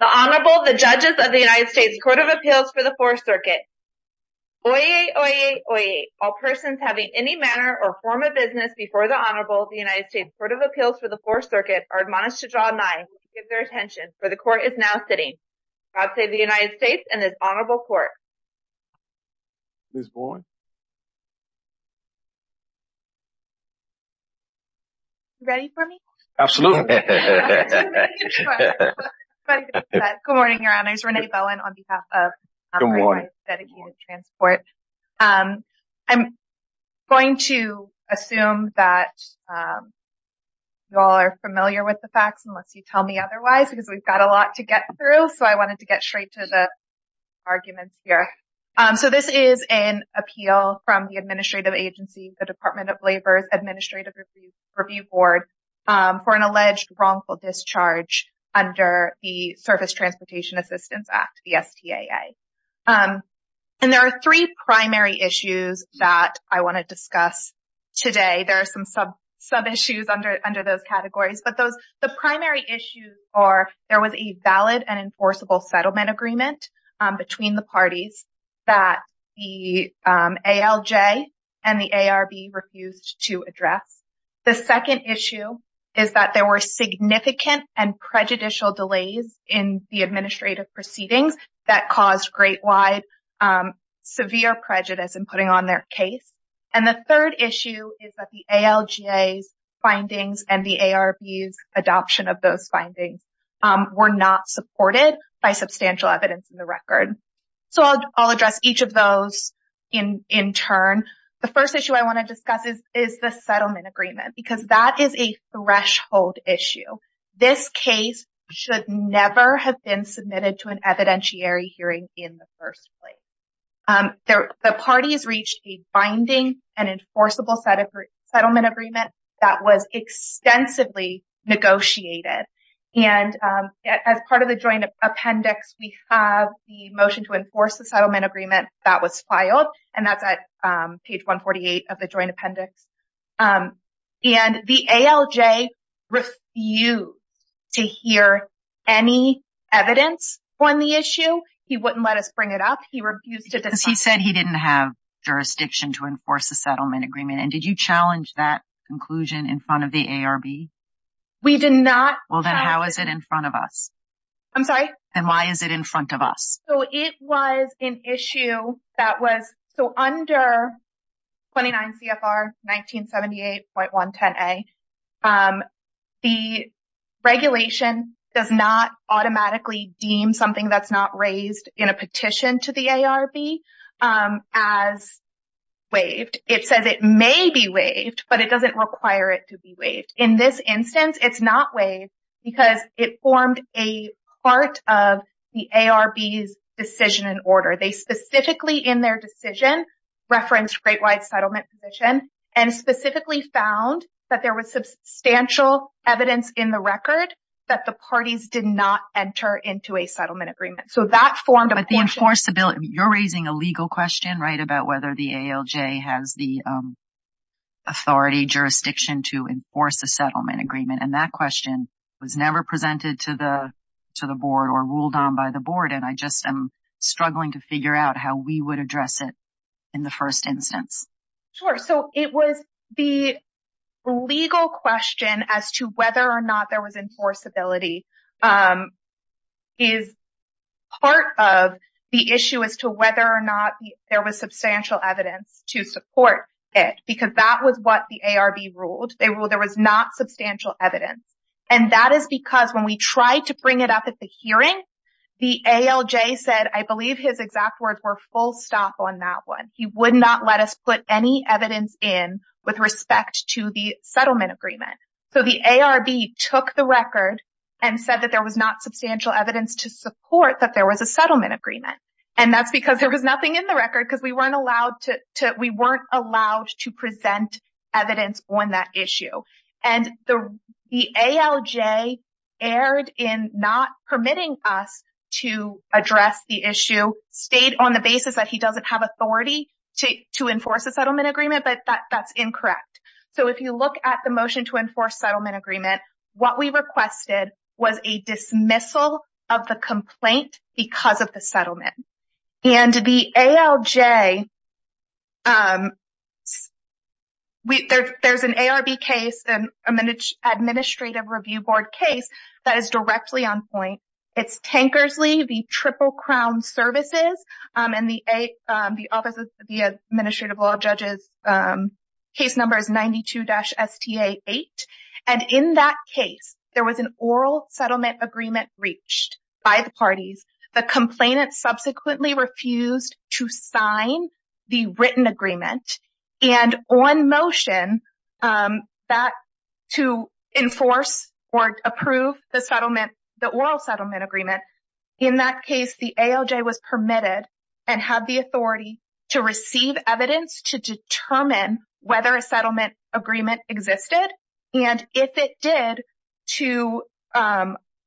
The Honorable, the Judges of the United States Court of Appeals for the Fourth Circuit. Oyez! Oyez! Oyez! All persons having any manner or form of business before the Honorable of the United States Court of Appeals for the Fourth Circuit are admonished to draw a nine and give their attention, for the Court is now sitting. God save the United States and this Honorable Court. Ms. Boyd? Ready for me? Absolutely. Good morning, Your Honor. It's Renee Bowen on behalf of United States Dedicated Transport. Good morning. I'm going to assume that you all are familiar with the facts, unless you tell me otherwise, because we've got a lot to get through. So I wanted to get straight to the arguments here. So this is an appeal from the administrative agency, the Department of Labor's Administrative It's a misdemeanor. It's a misdemeanor. It's a misdemeanor. It's a misdemeanor. And it's called a confirmation effort for a misdemeanor. And it's called a confirmation effort for a misdemeanor, and this is because there is an alleged wrongful discharge under the Surface Transportation Assistance Act, the STAA. And there are three primary issues that I want to discuss today. There are some sub issues under those categories. But the primary issues are, there was a valid and enforceable settlement agreement between the parties that the ALJ and the ARB refused to address. The second issue is that there were significant and prejudicial delays in the administrative proceedings that caused great, wide, severe prejudice in putting on their case. And the third issue is that the ALJ's findings and the ARB's adoption of those findings were not supported by substantial evidence in the record. So I'll address each of those in turn. The first issue I want to discuss is the settlement agreement, because that is a threshold issue. This case should never have been submitted to an evidentiary hearing in the first place. The parties reached a binding and enforceable settlement agreement that was extensively negotiated. And as part of the joint appendix, we have the motion to enforce the settlement agreement that was filed, and that's at page 148 of the joint appendix. And the ALJ refused to hear any evidence on the issue. He wouldn't let us bring it up. He refused to discuss it. Because he said he didn't have jurisdiction to enforce the settlement agreement. And did you challenge that conclusion in front of the ARB? We did not. Well, then how is it in front of us? I'm sorry? And why is it in front of us? So it was an issue that was, so under 29 CFR 1978.110A, the regulation does not automatically deem something that's not raised in a petition to the ARB as waived. It says it may be waived, but it doesn't require it to be waived. In this instance, it's not waived because it formed a part of the ARB's decision and order. They specifically, in their decision, referenced Great White Settlement Petition, and specifically found that there was substantial evidence in the record that the parties did not enter into a settlement agreement. So that formed a portion- But the enforceability, you're raising a legal question, right, about whether the ALJ has the authority, jurisdiction to enforce a settlement agreement, and that question was never presented to the board or ruled on by the board, and I just am struggling to figure out how we would address it in the first instance. Sure. So it was the legal question as to whether or not there was enforceability is part of the issue as to whether or not there was substantial evidence to support it, because that was what the ARB ruled. They ruled there was not substantial evidence, and that is because when we tried to bring it up at the hearing, the ALJ said, I believe his exact words were full stop on that one. He would not let us put any evidence in with respect to the settlement agreement. So the ARB took the record and said that there was not substantial evidence to support that there was a settlement agreement, and that's because there was nothing in the record because we weren't allowed to present evidence on that issue, and the ALJ erred in not permitting us to address the issue, stayed on the basis that he doesn't have authority to enforce a settlement agreement, but that's incorrect. So if you look at the motion to enforce settlement agreement, what we requested was a dismissal of the complaint because of the settlement, and the ALJ, there's an ARB case, an Administrative Review Board case that is directly on point. It's Tankersley, the Triple Crown Services, and the Office of the Administrative Law Judge's case number is 92-STA8, and in that case, there was an oral settlement agreement reached by the parties. The complainant subsequently refused to sign the written agreement, and on motion to enforce or approve the settlement, the oral settlement agreement, in that case, the ALJ was permitted and had the authority to receive evidence to determine whether a settlement agreement existed, and if it did, to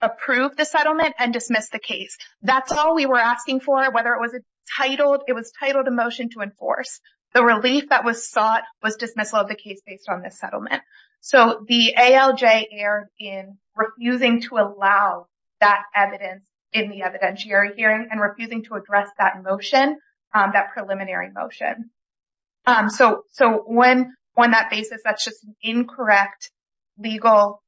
approve the settlement and dismiss the case. That's all we were asking for, whether it was titled, it was titled a motion to enforce. The relief that was sought was dismissal of the case based on the settlement. So the ALJ erred in refusing to allow that evidence in the evidentiary hearing and refusing to address that motion, that preliminary motion. So on that basis, that's just an incorrect legal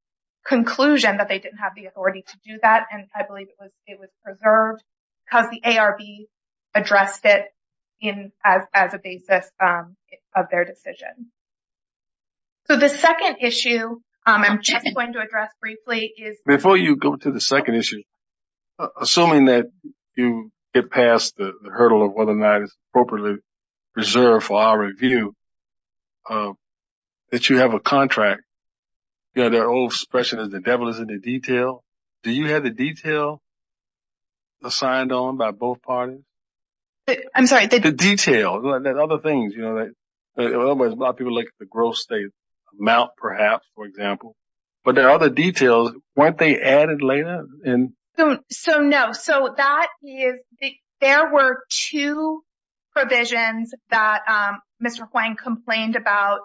conclusion that they didn't have the authority to do that, and I believe it was preserved because the ARB addressed it as a basis of their decision. So the second issue I'm just going to address briefly is... We're past the hurdle of whether or not it's appropriately preserved for our review that you have a contract. You know, there are old expressions, the devil is in the detail. Do you have the detail assigned on by both parties? I'm sorry, the... The detail. There are other things, you know, a lot of people look at the gross state amount, perhaps, for example. But there are other details. Weren't they added later? So no. So that is... There were two provisions that Mr. Hwang complained about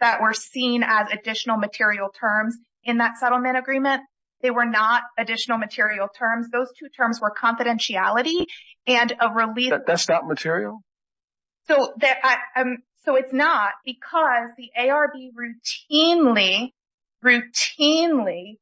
that were seen as additional material terms in that settlement agreement. They were not additional material terms. Those two terms were confidentiality and a release... That's not material? So it's not because the ARB routinely, routinely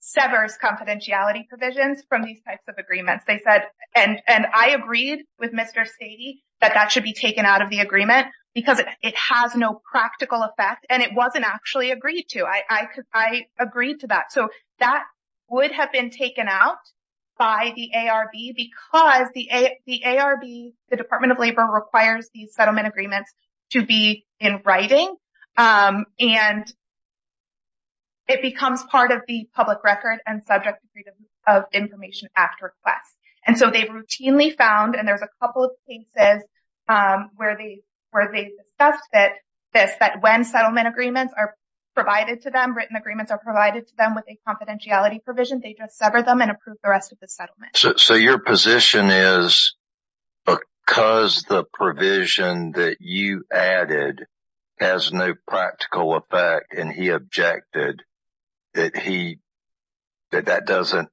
severs confidentiality provisions from these types of agreements. They said... And I agreed with Mr. Stady that that should be taken out of the agreement because it has no practical effect, and it wasn't actually agreed to. I agreed to that. So that would have been taken out by the ARB because the ARB, the Department of Labor, requires these settlement agreements to be in writing, and it becomes part of the Public Record and Subject to Freedom of Information Act request. And so they routinely found, and there's a couple of cases where they discussed this, that when settlement agreements are provided to them, written agreements are provided to them. It's not a confidentiality provision. They just sever them and approve the rest of the settlement. So your position is, because the provision that you added has no practical effect and he objected, that that doesn't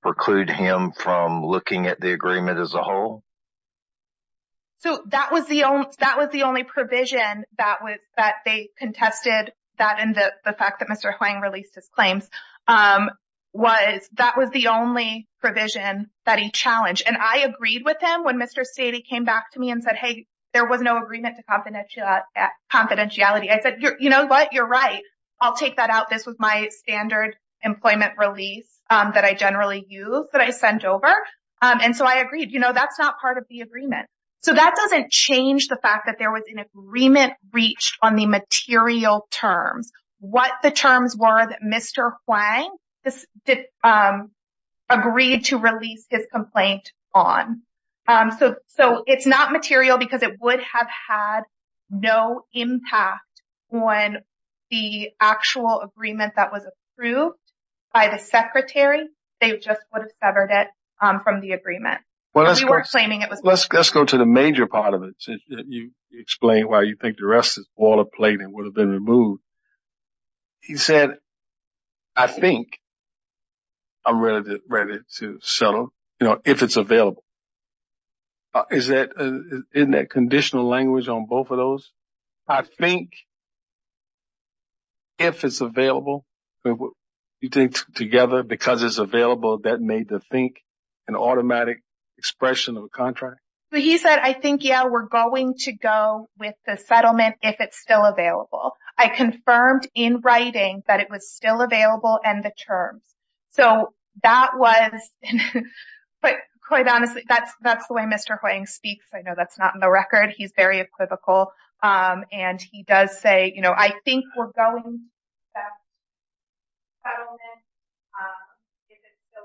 preclude him from looking at the agreement as a whole? So that was the only provision that they contested, that and the fact that Mr. Hwang released his claims was, that was the only provision that he challenged. And I agreed with him when Mr. Stady came back to me and said, hey, there was no agreement to confidentiality. I said, you know what? You're right. I'll take that out. This was my standard employment release that I generally use that I sent over. And so I agreed. You know, that's not part of the agreement. So that doesn't change the fact that there was an agreement reached on the material terms, what the terms were that Mr. Hwang agreed to release his complaint on. So it's not material because it would have had no impact on the actual agreement that was approved by the secretary. They just would have severed it from the agreement. Let's go to the major part of it. You explained why you think the rest is boilerplate and would have been removed. He said, I think I'm ready to settle, you know, if it's available. Is that in that conditional language on both of those? I think if it's available, you think together, because it's available, that made the think an automatic expression of a contract. So he said, I think, yeah, we're going to go with the settlement if it's still available. I confirmed in writing that it was still available and the terms. So that was, but quite honestly, that's that's the way Mr. Hwang speaks. I know that's not in the record. He's very equivocal. And he does say, you know, I think we're going to go with the settlement if it's still available.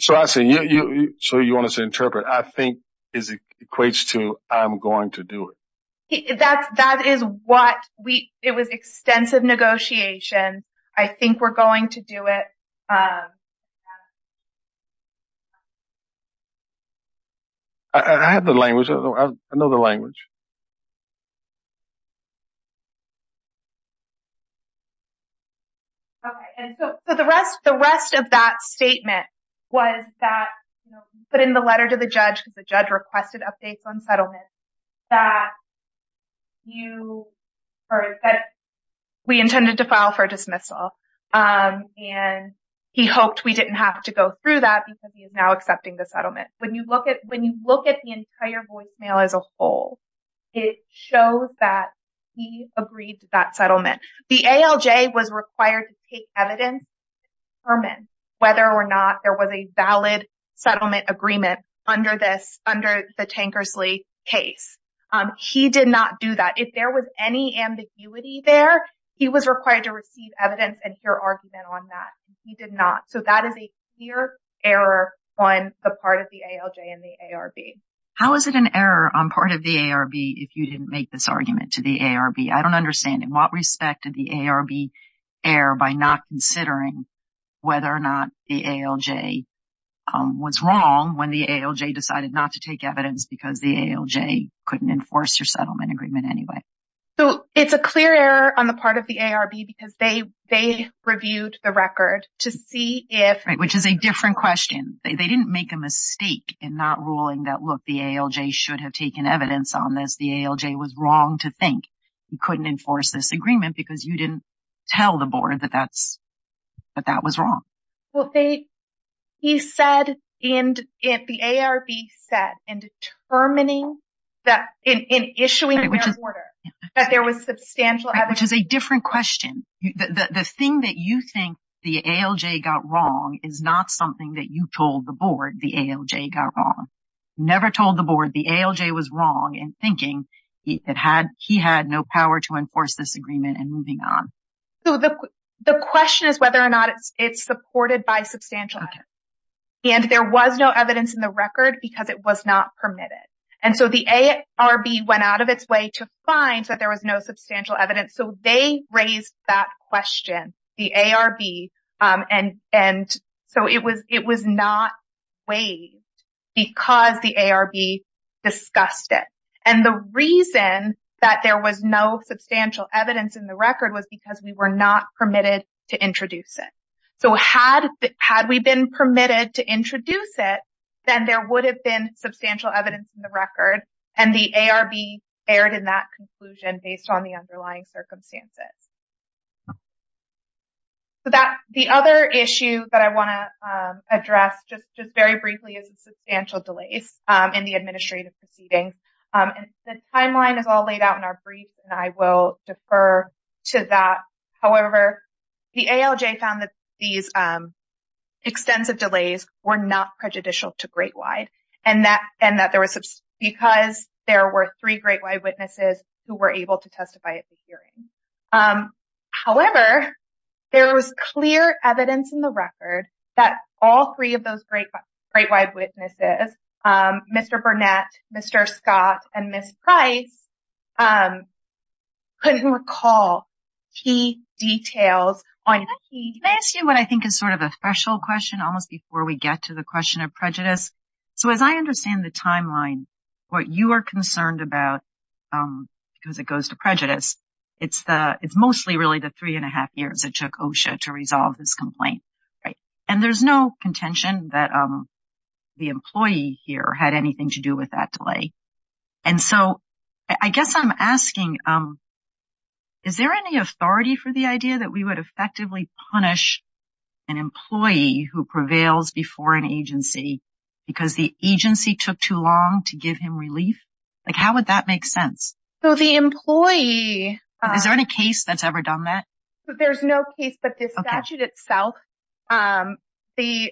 So I see you. So you want us to interpret, I think is equates to I'm going to do it. That's that is what we it was extensive negotiation. I think we're going to do it. OK, and so the rest the rest of that statement was that put in the letter to the judge, the judge requested updates on settlement that you heard that we intended to file for dismissal and he hoped we didn't have to go through that because he is now accepting the settlement. When you look at when you look at the entire voicemail as a whole, it shows that he agreed to that settlement. The ALJ was required to take evidence to determine whether or not there was a valid settlement agreement under this under the Tankersley case. He did not do that. If there was any ambiguity there, he was required to receive evidence and hear argument on that. He did not. So that is a clear error on the part of the ALJ and the ARB. How is it an error on part of the ARB if you didn't make this argument to the ARB? I don't understand in what respect did the ARB err by not considering whether or not the ALJ was wrong when the ALJ decided not to take evidence because the ALJ couldn't enforce your settlement agreement anyway? So it's a clear error on the part of the ARB because they they reviewed the Which is a different question. They didn't make a mistake in not ruling that, look, the ALJ should have taken evidence on this. The ALJ was wrong to think you couldn't enforce this agreement because you didn't tell the board that that's that that was wrong. Well, he said and if the ARB said in determining that in issuing the order that there was Which is a different question. The thing that you think the ALJ got wrong is not something that you told the board the ALJ got wrong. Never told the board the ALJ was wrong in thinking he had no power to enforce this agreement and moving on. So the question is whether or not it's supported by substantial evidence. And there was no evidence in the record because it was not permitted. And so the ARB went out of its way to find that there was no substantial evidence. So they raised that question, the ARB. And and so it was it was not waived because the ARB discussed it. And the reason that there was no substantial evidence in the record was because we were not permitted to introduce it. So had had we been permitted to introduce it, then there would have been substantial evidence in the record. And the ARB erred in that conclusion based on the underlying circumstances. So that the other issue that I want to address just just very briefly is substantial delays in the administrative proceedings. And the timeline is all laid out in our brief, and I will defer to that. However, the ALJ found that these extensive delays were not prejudicial to great wide and that and that there was because there were three great wide witnesses who were able to testify at the hearing. However, there was clear evidence in the record that all three of those great great wide witnesses, Mr. Burnett, Mr. Scott and Ms. Price, couldn't recall key details on. Can I ask you what I think is sort of a special question almost before we get to the question of prejudice? So as I understand the timeline, what you are concerned about because it goes to prejudice, it's the it's mostly really the three and a half years it took OSHA to resolve this complaint. And there's no contention that the employee here had anything to do with that delay. And so I guess I'm asking, is there any authority for the idea that we would effectively punish an employee who prevails before an agency because the agency took too long to give him relief? Like, how would that make sense? So the employee. Is there any case that's ever done that? There's no case, but the statute itself, the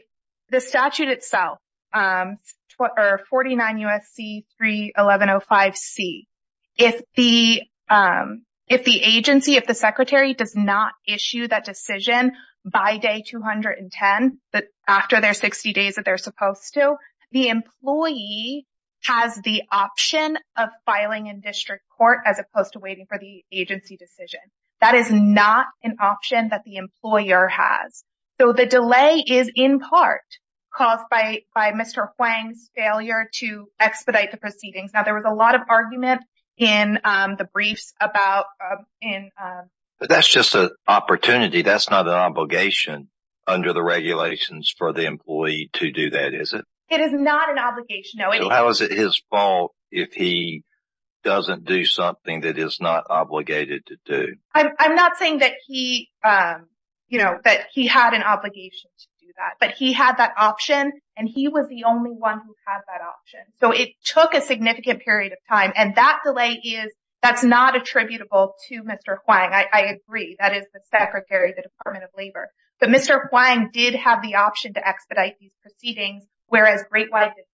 the statute itself or forty nine U.S.C. three eleven oh five C. If the if the agency, if the secretary does not issue that decision by day two hundred and ten after their 60 days that they're supposed to, the employee has the option of filing in district court as opposed to waiting for the agency decision. That is not an option that the employer has. So the delay is in part caused by by Mr. Huang's failure to expedite the proceedings. Now, there was a lot of argument in the briefs about and that's just an opportunity. That's not an obligation under the regulations for the employee to do that, is it? It is not an obligation. How is it his fault if he doesn't do something that is not obligated to do? I'm not saying that he, you know, that he had an obligation to do that, but he had that option and he was the only one who had that option. So it took a significant period of time. And that delay is that's not attributable to Mr. Huang. I agree. That is the secretary, the Department of Labor. But Mr. Huang did have the option to expedite these proceedings, whereas Great White did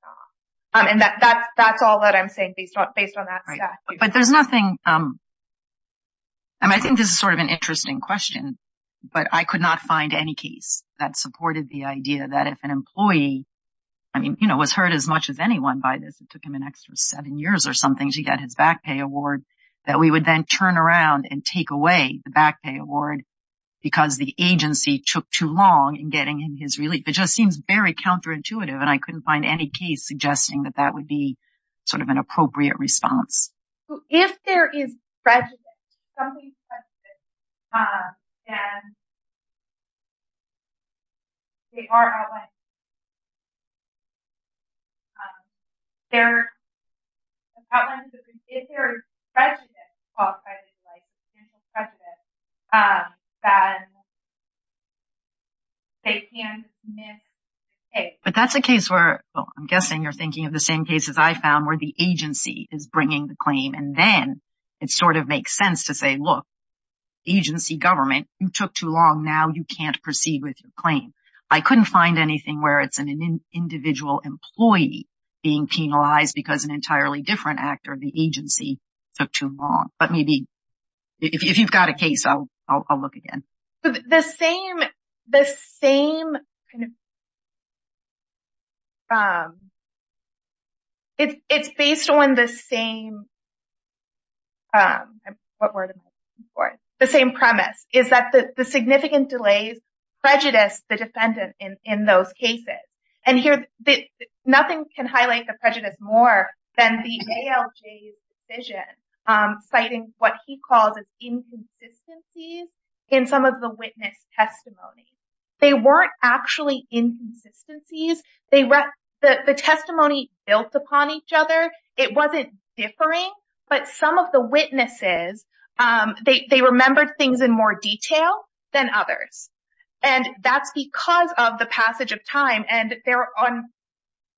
not. And that's all that I'm saying based on based on that. But there's nothing. I mean, I think this is sort of an interesting question, but I could not find any case that supported the idea that if an employee, I mean, you know, was hurt as much as anyone by this, it took him an extra seven years or something to get his back pay award that we would then turn around and take away the back pay award because the agency took too long in getting his relief. It just seems very counterintuitive. And I couldn't find any case suggesting that that would be sort of an appropriate response. If there is prejudice, then they are outlined, if there is prejudice, then they can submit a case. But that's a case where I'm guessing you're thinking of the same cases I found where the agency is bringing the claim and then it sort of makes sense to say, look, agency government, you took too long. Now you can't proceed with your claim. I couldn't find anything where it's an individual employee being penalized because an entirely different actor of the agency took too long. But maybe if you've got a case, I'll look again. The same, the same. It's based on the same. What word for the same premise is that the significant delays, prejudice, the defendant in those cases and here that nothing can highlight the prejudice more than the ALJ's decision, citing what he calls inconsistencies in some of the witness testimony. They weren't actually inconsistencies. They were the testimony built upon each other. It wasn't differing. But some of the witnesses, they remembered things in more detail than others. And that's because of the passage of time. And they're on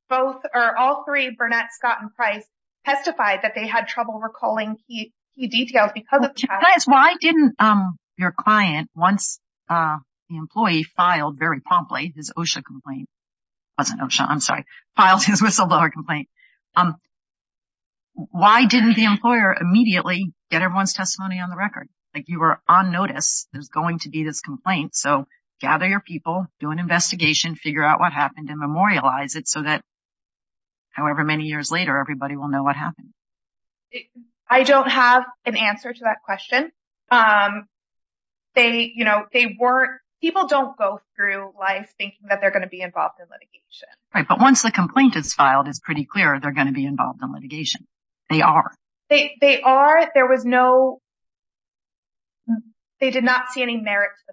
both or all three. Burnett, Scott and Price testified that they had trouble recalling key details because of chat. Why didn't your client, once the employee filed very promptly his OSHA complaint, wasn't OSHA, I'm sorry, filed his whistleblower complaint. Why didn't the employer immediately get everyone's testimony on the record? Like you were on notice, there's going to be this complaint, so gather your people, do an investigation, figure out what happened and memorialize it so that. However, many years later, everybody will know what happened. I don't have an answer to that question. They you know, they were people don't go through life thinking that they're going to be involved in litigation. But once the complaint is filed, it's pretty clear they're going to be involved in litigation. They are. They are. There was no. They did not see any merit to the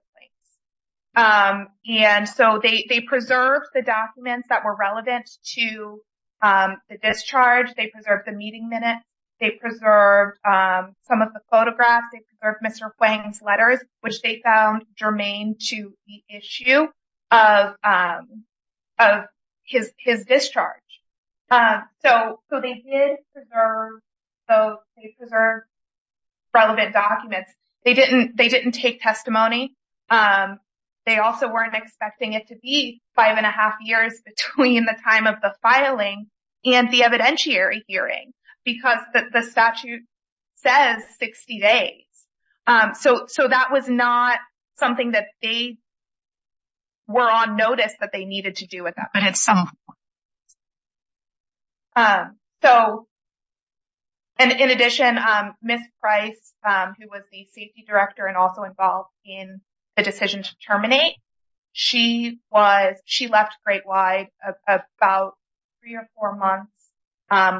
case, and so they preserved the documents that were relevant to the discharge, they preserved the meeting minutes, they preserved some of the photographs, they preserved Mr. Huang's letters, which they found germane to the issue of of his discharge. So so they did preserve those cases are relevant documents. They didn't they didn't take testimony. They also weren't expecting it to be five and a half years between the time of the filing and the evidentiary hearing because the statute says 60 days. So so that was not something that they. We're on notice that they needed to do with that, but at some. So. And in addition, Miss Price, who was the safety director and also involved in the decision to terminate, she was she left great wide about three or four months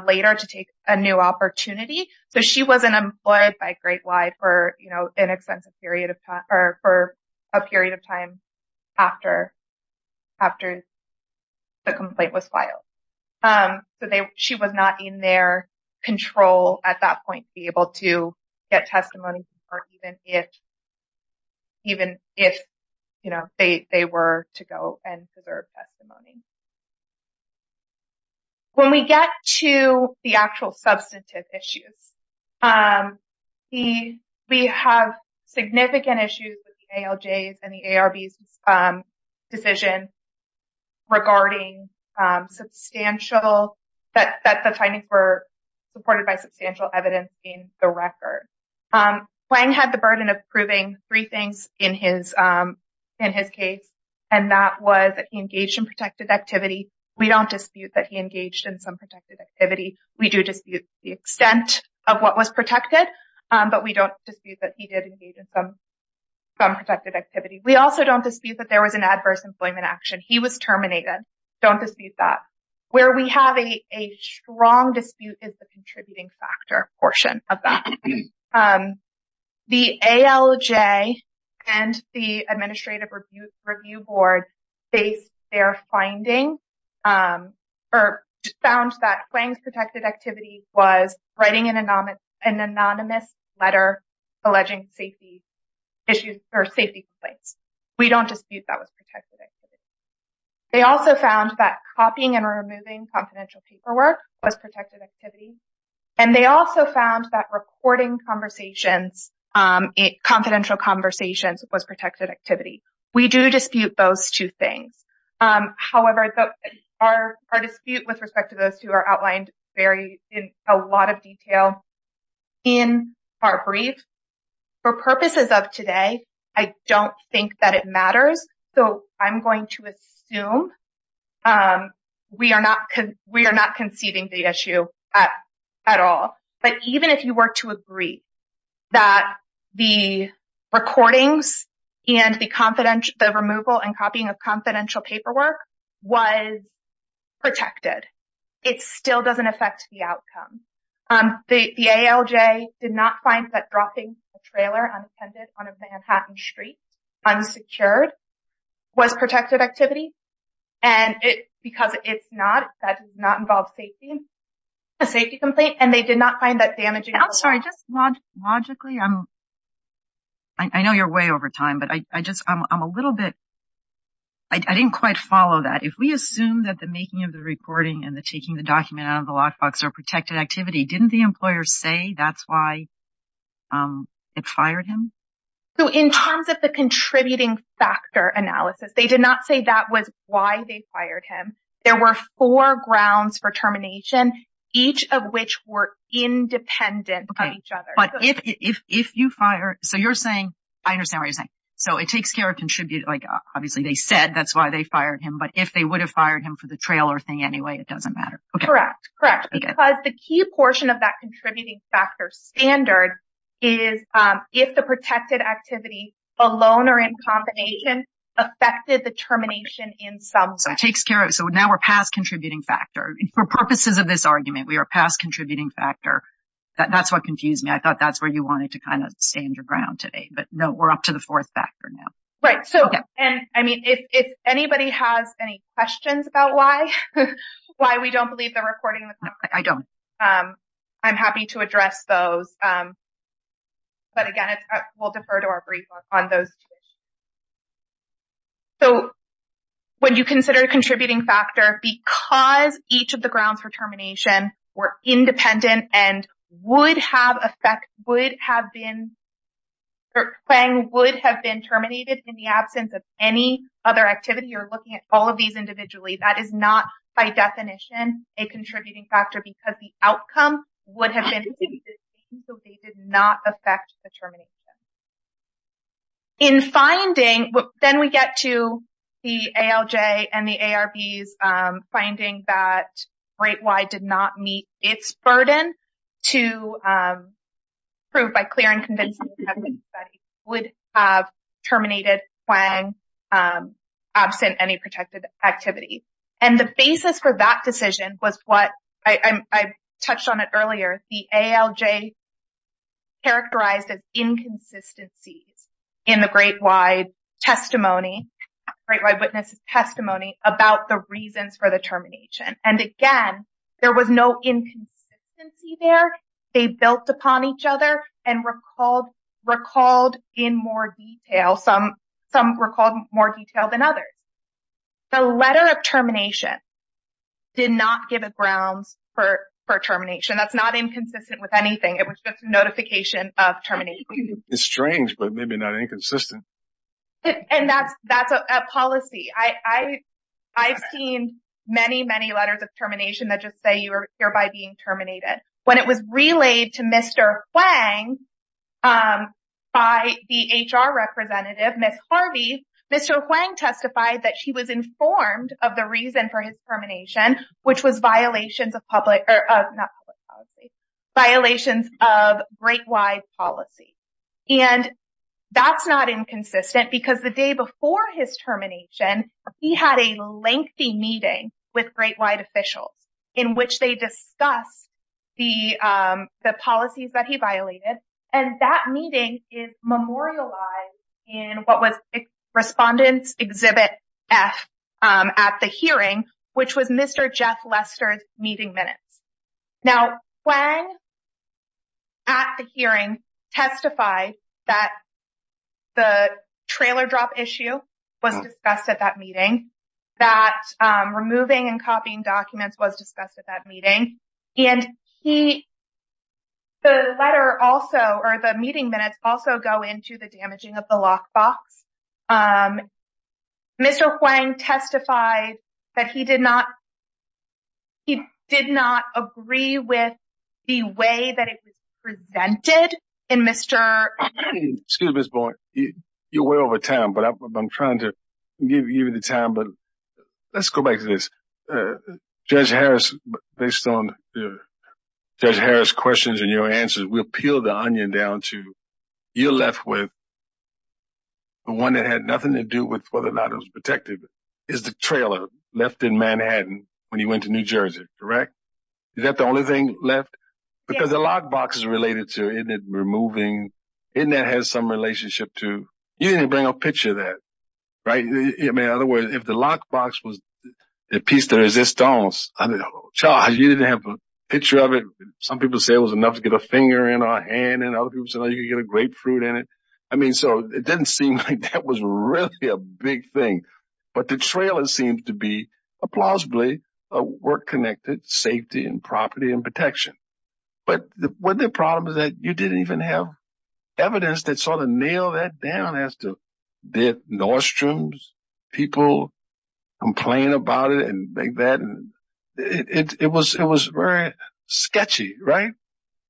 later to take a new opportunity. So she wasn't employed by great life or, you know, an extensive period of time or for a period of time after after. The complaint was filed, but she was not in their control at that point to be able to get testimony or even if. Even if, you know, they were to go and preserve testimony. When we get to the actual substantive issues, the we have significant issues with the ALJs and the ARBs decision regarding substantial that that the findings were supported by substantial evidence in the record. Wang had the burden of proving three things in his in his case, and that was engaged in protected activity. We don't dispute that he engaged in some protected activity. We do dispute the extent of what was protected, but we don't dispute that he did engage in some some protected activity. We also don't dispute that there was an adverse employment action. He was terminated. Don't dispute that. Where we have a strong dispute is the contributing factor portion of that. And the ALJ and the Administrative Review Board based their finding or found that Wang's protected activity was writing an anonymous letter alleging safety issues or safety complaints. We don't dispute that was protected. They also found that copying and removing confidential paperwork was protected activity, and they also found that recording conversations, confidential conversations was protected activity. We do dispute those two things. However, our dispute with respect to those two are outlined very in a lot of detail in our brief. For purposes of today, I don't think that it matters. So I'm going to assume we are not we are not conceding the issue at all. But even if you were to agree that the recordings and the confidential, the removal and copying of confidential paperwork was protected, it still doesn't affect the outcome. The ALJ did not find that dropping a trailer on a Manhattan street unsecured was protected activity. And because it's not that does not involve safety, a safety complaint, and they did not find that damaging. I'm sorry, just logically, I'm. I know you're way over time, but I just I'm a little bit. I didn't quite follow that, if we assume that the making of the reporting and the taking the document out of the lockbox are protected activity, didn't the employer say that's why it fired him? So in terms of the contributing factor analysis, they did not say that was why they fired him. There were four grounds for termination, each of which were independent of each other. But if if you fire. So you're saying I understand what you're saying. So it takes care of contribute. Like, obviously, they said that's why they fired him. But if they would have fired him for the trailer thing anyway, it doesn't matter. Correct. Correct. Because the key portion of that contributing factor standard is if the protected activity alone or in combination affected the termination in some way. So it takes care of. So now we're past contributing factor for purposes of this argument. We are past contributing factor. That's what confused me. I thought that's where you wanted to kind of stand your ground today. But no, we're up to the fourth factor now. Right. So and I mean, if anybody has any questions about why why we don't believe the recording, I don't. I'm happy to address those. But again, we'll defer to our brief on those. So when you consider a contributing factor because each of the grounds for termination were independent and would have effect, would have been playing, would have been terminated in the absence of any other activity or looking at all of these activities individually, that is not, by definition, a contributing factor because the outcome would have been so they did not affect the termination. In finding what then we get to the ALJ and the ARB's finding that great, why did not meet its burden to prove by clear and convincing evidence that it would have terminated when absent any protected activity. And the basis for that decision was what I touched on it earlier. The ALJ. Characterized as inconsistencies in the great wide testimony, great wide witness testimony about the reasons for the termination. And again, there was no inconsistency there. They built upon each other and recalled recalled in more detail. Some some recalled more detail than others. The letter of termination. Did not give a grounds for for termination, that's not inconsistent with anything. It was just a notification of termination. It's strange, but maybe not inconsistent. And that's that's a policy I I've seen many, many letters of termination that just say you are hereby being terminated when it was relayed to Mr. Huang by the HR representative, Ms. Harvey, Mr. Huang testified that she was informed of the reason for his termination, which was violations of public or not violations of great wide policy. And that's not inconsistent because the day before his termination, he had a lengthy meeting with great wide officials in which they discuss the the policies that he violated. And that meeting is memorialized in what was Respondents Exhibit F at the hearing, which was Mr. Jeff Lester's meeting minutes. Now, when. At the hearing, testify that. The trailer drop issue was discussed at that meeting, that removing and copying documents was discussed at that meeting, and he. The letter also or the meeting minutes also go into the damaging of the lockbox. Mr. Huang testified that he did not. He did not agree with the way that it was presented in Mr. Excuse me, you're way over time, but I'm trying to give you the time. But let's go back to this. Judge Harris, based on Judge Harris questions and your answers, we'll peel the onion down to you left with. The one that had nothing to do with whether or not it was protected is the trailer left in Manhattan when he went to New Jersey, correct? Is that the only thing left? Because the lockbox is related to removing in that has some relationship to you didn't bring a picture that right in other words, if the lockbox was a piece of resistance, Charles, you didn't have a picture of it. Some people say it was enough to get a finger in our hand and you get a grapefruit in it. I mean, so it didn't seem like that was really a big thing. But the trailer seems to be a plausibly work connected safety and property and protection. But the problem is that you didn't even have evidence that sort of nail that down as to the Nordstrom's people complain about it and that it was it was very sketchy, right?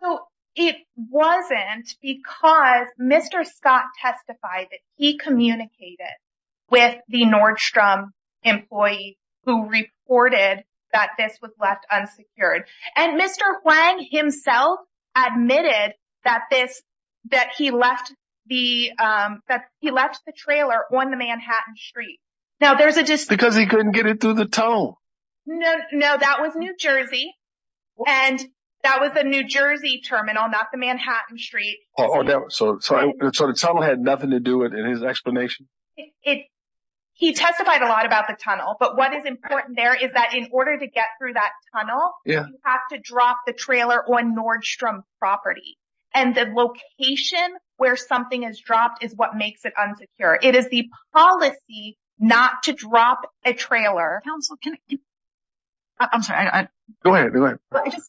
So it wasn't because Mr. Scott testified that he communicated with the Nordstrom employee who reported that this was left unsecured and Mr. Wang himself admitted that this that he left the that he left the trailer on the Manhattan Street. Now, there's a just because he couldn't get it through the tunnel. No, no. That was New Jersey. And that was the New Jersey terminal, not the Manhattan Street. Oh, so it sort of had nothing to do with his explanation. It he testified a lot about the tunnel. But what is important there is that in order to get through that tunnel, you have to drop the trailer on Nordstrom property. And the location where something is dropped is what makes it unsecure. It is the policy not to drop a trailer. Counselor, can I. I'm sorry, I go ahead, go ahead.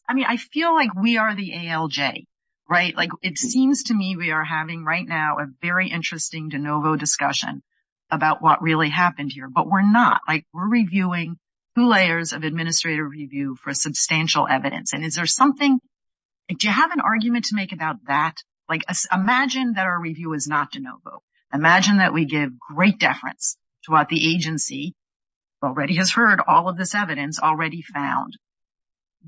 I mean, I feel like we are the ALJ, right? Like it seems to me we are having right now a very interesting DeNovo discussion about what really happened here. But we're not like we're reviewing two layers of administrative review for substantial evidence. And is there something do you have an argument to make about that? Like, imagine that our review is not DeNovo. Imagine that we give great deference to what the agency already has heard, all of this evidence already found.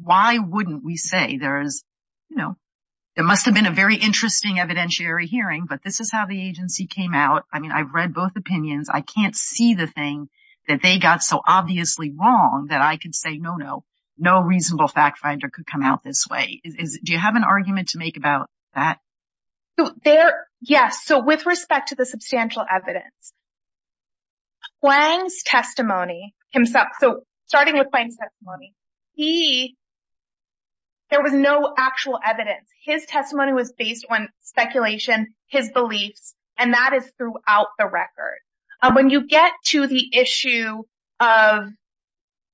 Why wouldn't we say there is, you know, there must have been a very interesting evidentiary hearing. But this is how the agency came out. I mean, I've read both opinions. I can't see the thing that they got so obviously wrong that I can say, no, no, no reasonable fact finder could come out this way. Do you have an argument to make about that? There. Yes. So with respect to the substantial evidence. Wang's testimony himself, so starting with Wang's testimony, he. There was no actual evidence, his testimony was based on speculation, his beliefs, and that is throughout the record. When you get to the issue of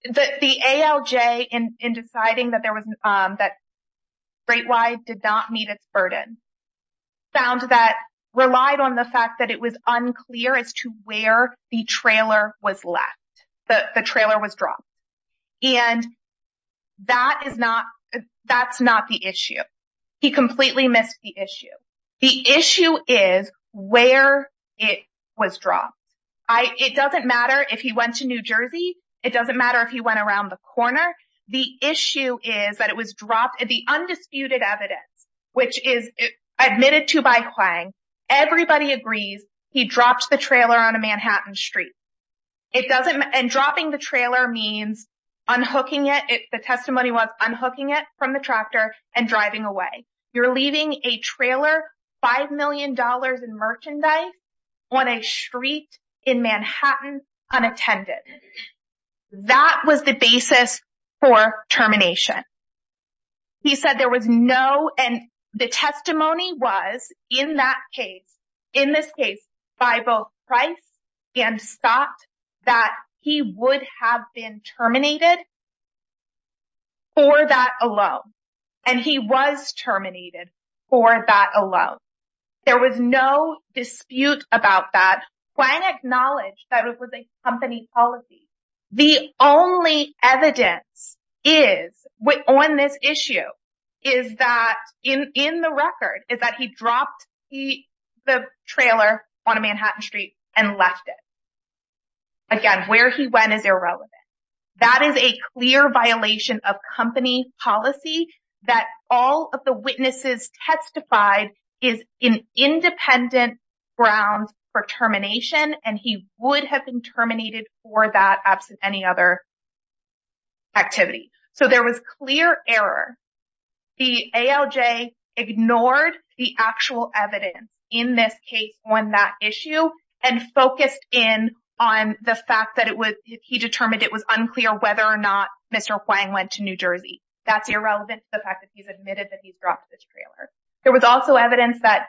the ALJ in deciding that there was that statewide did not meet its burden. Found that relied on the fact that it was unclear as to where the trailer was left, the trailer was dropped. And that is not that's not the issue. He completely missed the issue. The issue is where it was dropped. It doesn't matter if he went to New Jersey. It doesn't matter if he went around the corner. The issue is that it was dropped. The undisputed evidence, which is admitted to by Wang. Everybody agrees he dropped the trailer on a Manhattan street. It doesn't. And dropping the trailer means unhooking it. The testimony was unhooking it from the tractor and driving away. You're leaving a trailer, five million dollars in merchandise on a street in Manhattan unattended. That was the basis for termination. He said there was no. And the testimony was in that case, in this case, by both price and thought that he would have been terminated. For that alone. And he was terminated for that alone. There was no dispute about that. Wang acknowledged that it was a company policy. The only evidence is on this issue is that in the record is that he dropped the trailer on a Manhattan street and left it. Again, where he went is irrelevant. That is a clear violation of company policy that all of the witnesses testified is an independent grounds for termination. And he would have been terminated for that. Absent any other. Activity, so there was clear error, the ALJ ignored the actual evidence in this case on that issue and focused in on the fact that it was he determined it was unclear whether or not Mr. Wang went to New Jersey. That's irrelevant to the fact that he's admitted that he's dropped this trailer. There was also evidence that.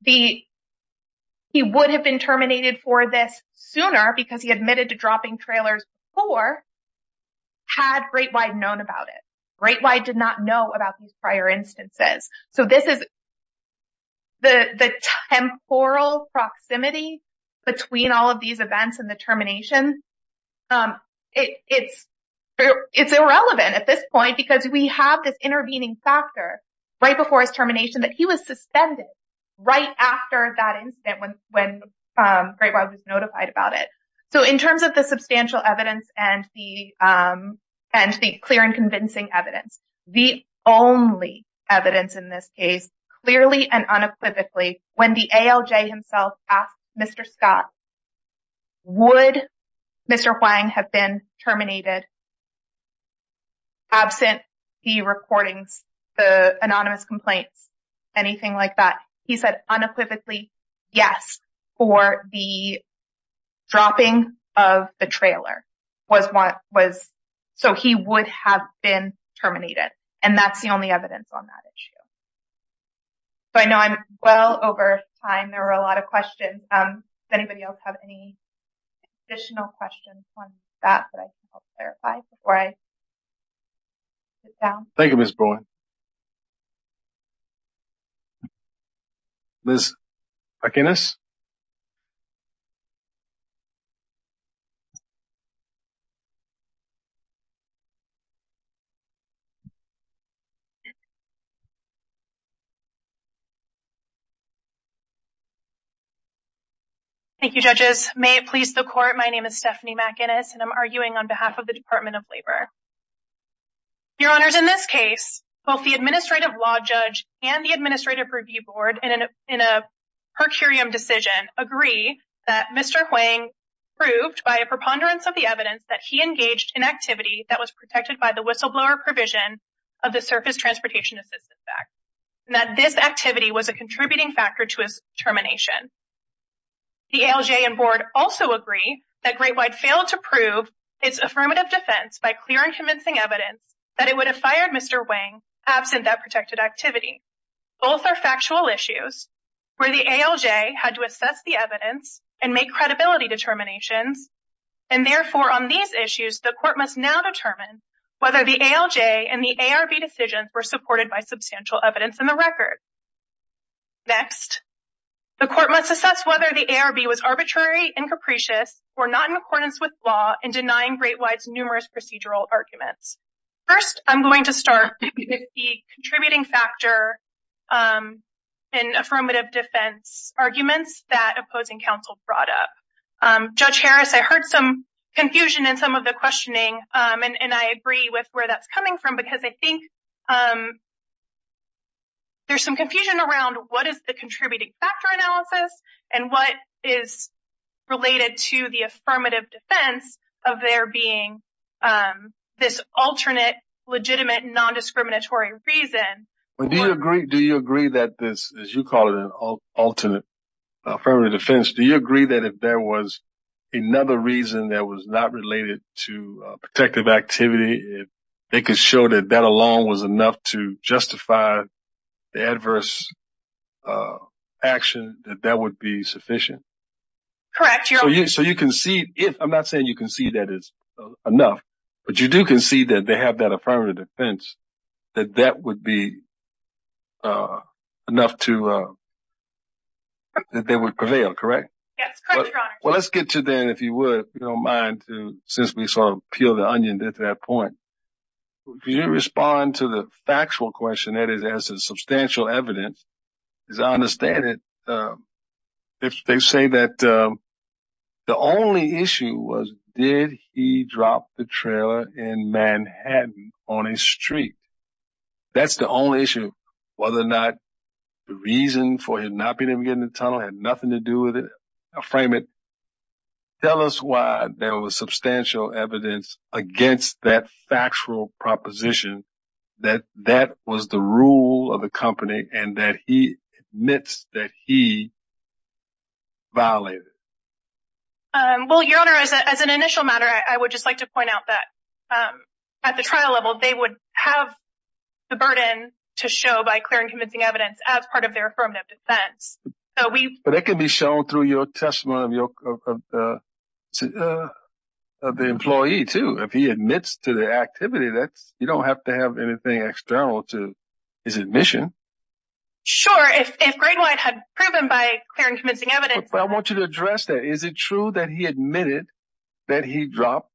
The. He would have been terminated for this sooner because he admitted to dropping trailers or. Had great wide known about it, great wide did not know about these prior instances, so this is. The temporal proximity between all of these events and the termination, it's it's irrelevant at this point because we have this intervening factor right before his termination that he was suspended right after that incident. When when great was notified about it. So in terms of the substantial evidence and the and the clear and convincing evidence, the only evidence in this case, clearly and unequivocally, when the ALJ himself asked Mr. Scott. Would Mr. Wang have been terminated? Absent the recordings, the anonymous complaints, anything like that, he said unequivocally, yes, for the dropping of the trailer was what was so he would have been terminated, and that's the only evidence on that issue. So I know I'm well over time, there are a lot of questions. Does anybody else have any additional questions on that that I clarify before I. Sit down. Thank you, Ms. Boyd. Liz Akinnis. Thank you, judges, may it please the court, my name is Stephanie McInnis and I'm arguing on behalf of the Department of Labor. Your honors, in this case, both the administrative law judge and the administrative review board in a per curiam decision agree that Mr. Hwang proved by a preponderance of the evidence that he engaged in activity that was protected by the whistleblower provision of the Surface Transportation Assistance Act and that this activity was a contributing factor to his termination. The ALJ and board also agree that Great White failed to prove its affirmative defense by clear and convincing evidence that it would have fired Mr. Hwang absent that protected activity. Both are factual issues where the ALJ had to assess the evidence and make credibility determinations. And therefore, on these issues, the court must now determine whether the ALJ and the ARB decisions were supported by substantial evidence in the record. Next, the court must assess whether the ARB was arbitrary and capricious or not in accordance with law and denying Great White's numerous procedural arguments. First, I'm going to start with the contributing factor in affirmative defense arguments that opposing counsel brought up. Judge Harris, I heard some confusion in some of the questioning, and I agree with where that's coming from, because I think there's some confusion around what is the contributing factor analysis and what is related to the affirmative defense of there being this alternate, legitimate, nondiscriminatory reason. Do you agree that this, as you call it, an alternate affirmative defense? Do you agree that if there was another reason that was not related to protective activity, if they could show that that alone was enough to justify the adverse action, that that would be sufficient? Correct. So you can see if I'm not saying you can see that it's enough, but you do can see that they have that affirmative defense, that that would be enough to that they would prevail, correct? Yes, correct, Your Honor. Well, let's get to then, if you would, if you don't mind, since we sort of peeled the onion to that point. Can you respond to the factual question that is as a substantial evidence? As I understand it, they say that the only issue was, did he drop the trailer in Manhattan on a street? That's the only issue. Whether or not the reason for him not being able to get in the tunnel had nothing to do with it, I'll frame it. Tell us why there was substantial evidence against that factual proposition that that was the rule of the company and that he admits that he violated. Well, Your Honor, as an initial matter, I would just like to point out that at the trial level, they would have the burden to show by clear and convincing evidence as part of their affirmative defense. But it can be shown through your testimony of the employee, too. If he admits to the activity, you don't have to have anything external to his admission. Sure, if Great White had proven by clear and convincing evidence. I want you to address that. Is it true that he admitted that he dropped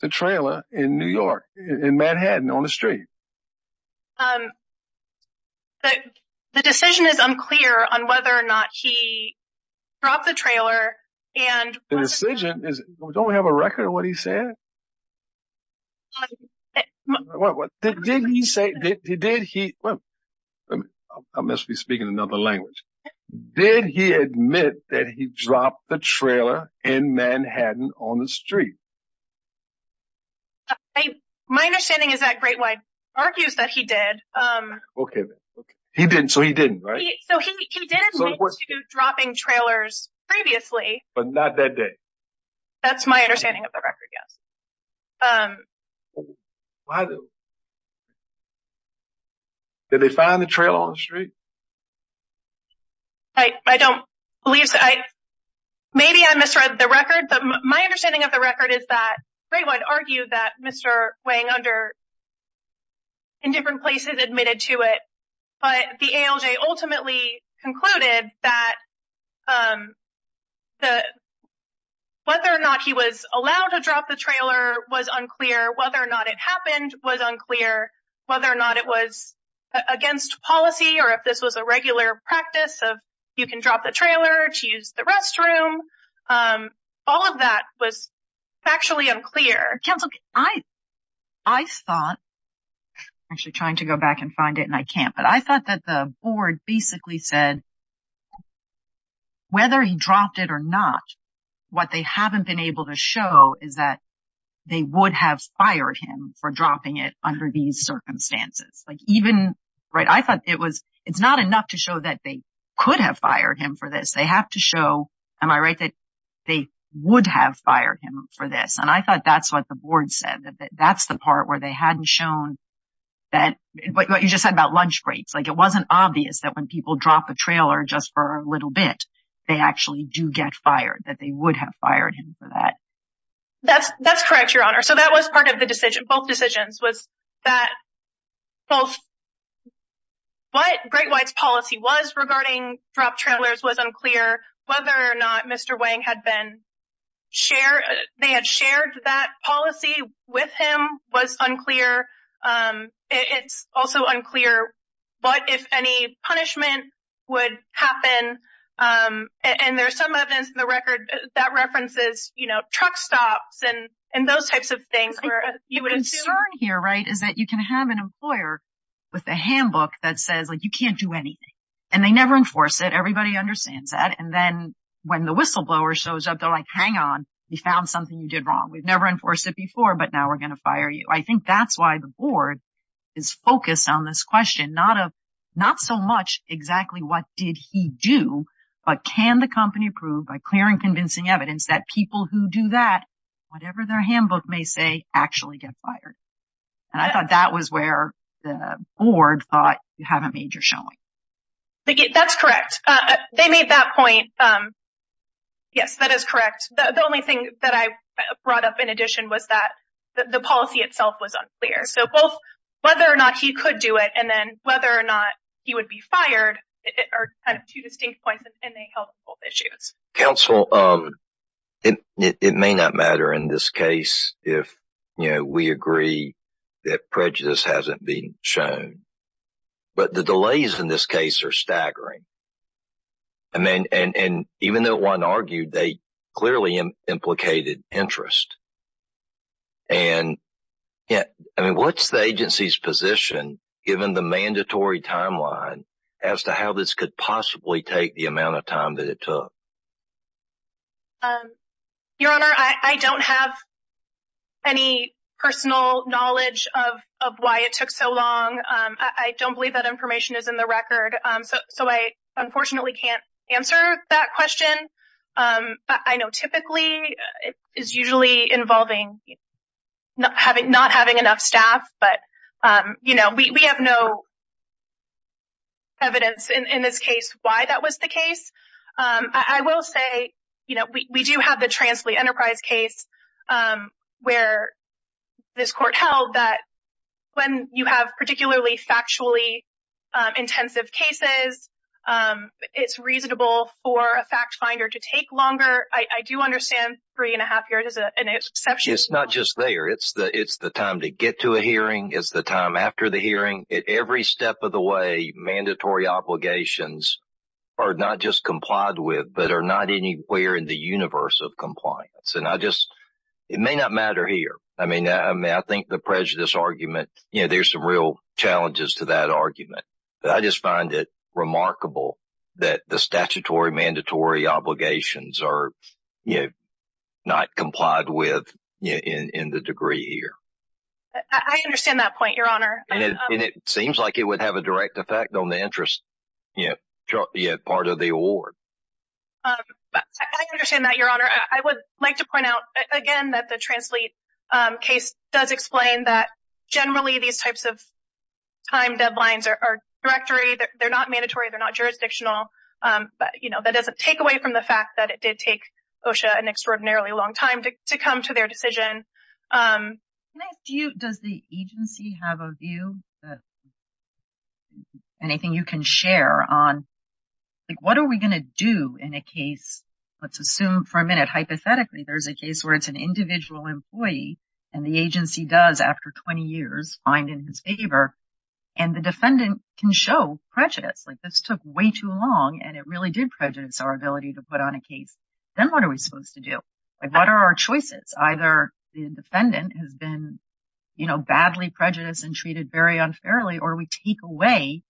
the trailer in New York, in Manhattan, on the street? The decision is unclear on whether or not he dropped the trailer. And the decision is, don't we have a record of what he said? But what did he say? Did he? I must be speaking another language. Did he admit that he dropped the trailer in Manhattan on the street? My understanding is that Great White argues that he did. Okay. So he didn't, right? So he did admit to dropping trailers previously. But not that day. That's my understanding of the record. Yes. Why? Did they find the trailer on the street? I don't believe. Maybe I misread the record. My understanding of the record is that Great White argued that Mr. Wang under in different places admitted to it. But the ALJ ultimately concluded that whether or not he was allowed to drop the trailer was unclear. Whether or not it happened was unclear. Whether or not it was against policy, to use the restroom, all of that was factually unclear. Counsel, I thought actually trying to go back and find it, and I can't. But I thought that the board basically said whether he dropped it or not, what they haven't been able to show is that they would have fired him for dropping it under these circumstances. Like even right. I thought it was it's not enough to show that they could have fired him for this. They have to show, am I right, that they would have fired him for this. And I thought that's what the board said, that that's the part where they hadn't shown that what you just said about lunch breaks, like it wasn't obvious that when people drop a trailer just for a little bit, they actually do get fired, that they would have fired him for that. That's that's correct, Your Honor. So that was part of the decision. Both decisions was that both. What Great White's policy was regarding drop trailers was unclear whether or not Mr. Wang had been shared, they had shared that policy with him was unclear. It's also unclear what, if any, punishment would happen. And there's some evidence in the record that references truck stops and those types of things. The concern here, right, is that you can have an employer with a handbook that says you can't do anything and they never enforce it. Everybody understands that. And then when the whistleblower shows up, they're like, hang on. We found something you did wrong. We've never enforced it before. But now we're going to fire you. I think that's why the board is focused on this question, not of not so much exactly what did he do, but can the company prove by clearing, convincing evidence that people who do that, whatever their handbook may say, actually get fired. And I thought that was where the board thought you have a major showing. That's correct. They made that point. Yes, that is correct. The only thing that I brought up in addition was that the policy itself was unclear, so both whether or not he could do it and then whether or not he would be fired are two distinct points and they help both issues. Counsel, it may not matter in this case if we agree that prejudice hasn't been shown. But the delays in this case are staggering. I mean, and even though one argued, they clearly implicated interest. And I mean, what's the agency's position given the mandatory timeline as to how this could possibly take the amount of time that it took? Your Honor, I don't have. Any personal knowledge of of why it took so long, I don't believe that information is in the record, so I unfortunately can't answer that question, but I know typically it is usually involving not having not having enough staff, but, you know, we have no. Evidence in this case why that was the case, I will say, you know, we do have the translate enterprise case where this court held that when you have particularly factually intensive cases, it's reasonable for a fact finder to take longer, I do understand three and a half years is an exception. It's not just there. It's the it's the time to get to a hearing is the time after the hearing. At every step of the way, mandatory obligations are not just complied with, but are not anywhere in the universe of compliance. And I just it may not matter here. I mean, I think the prejudice argument, you know, there's some real challenges to that argument. But I just find it remarkable that the statutory mandatory obligations are, you know, not complied with in the degree here. I understand that point, Your Honor. And it seems like it would have a direct effect on the interest, you know, part of the award. But I understand that, Your Honor. I would like to point out again that the translate case does explain that generally these types of time deadlines are directory, they're not mandatory, they're not jurisdictional. But, you know, that doesn't take away from the fact that it did take an extraordinarily long time to come to their decision. Can I ask you, does the agency have a view that anything you can share on, like, what are we going to do in a case? Let's assume for a minute, hypothetically, there's a case where it's an individual employee and the agency does, after 20 years, find in his favor and the defendant can show prejudice. Like this took way too long and it really did prejudice our ability to put on a case. Then what are we supposed to do? What are our choices? Either the defendant has been, you know, badly prejudiced and treated very unfairly, or we take away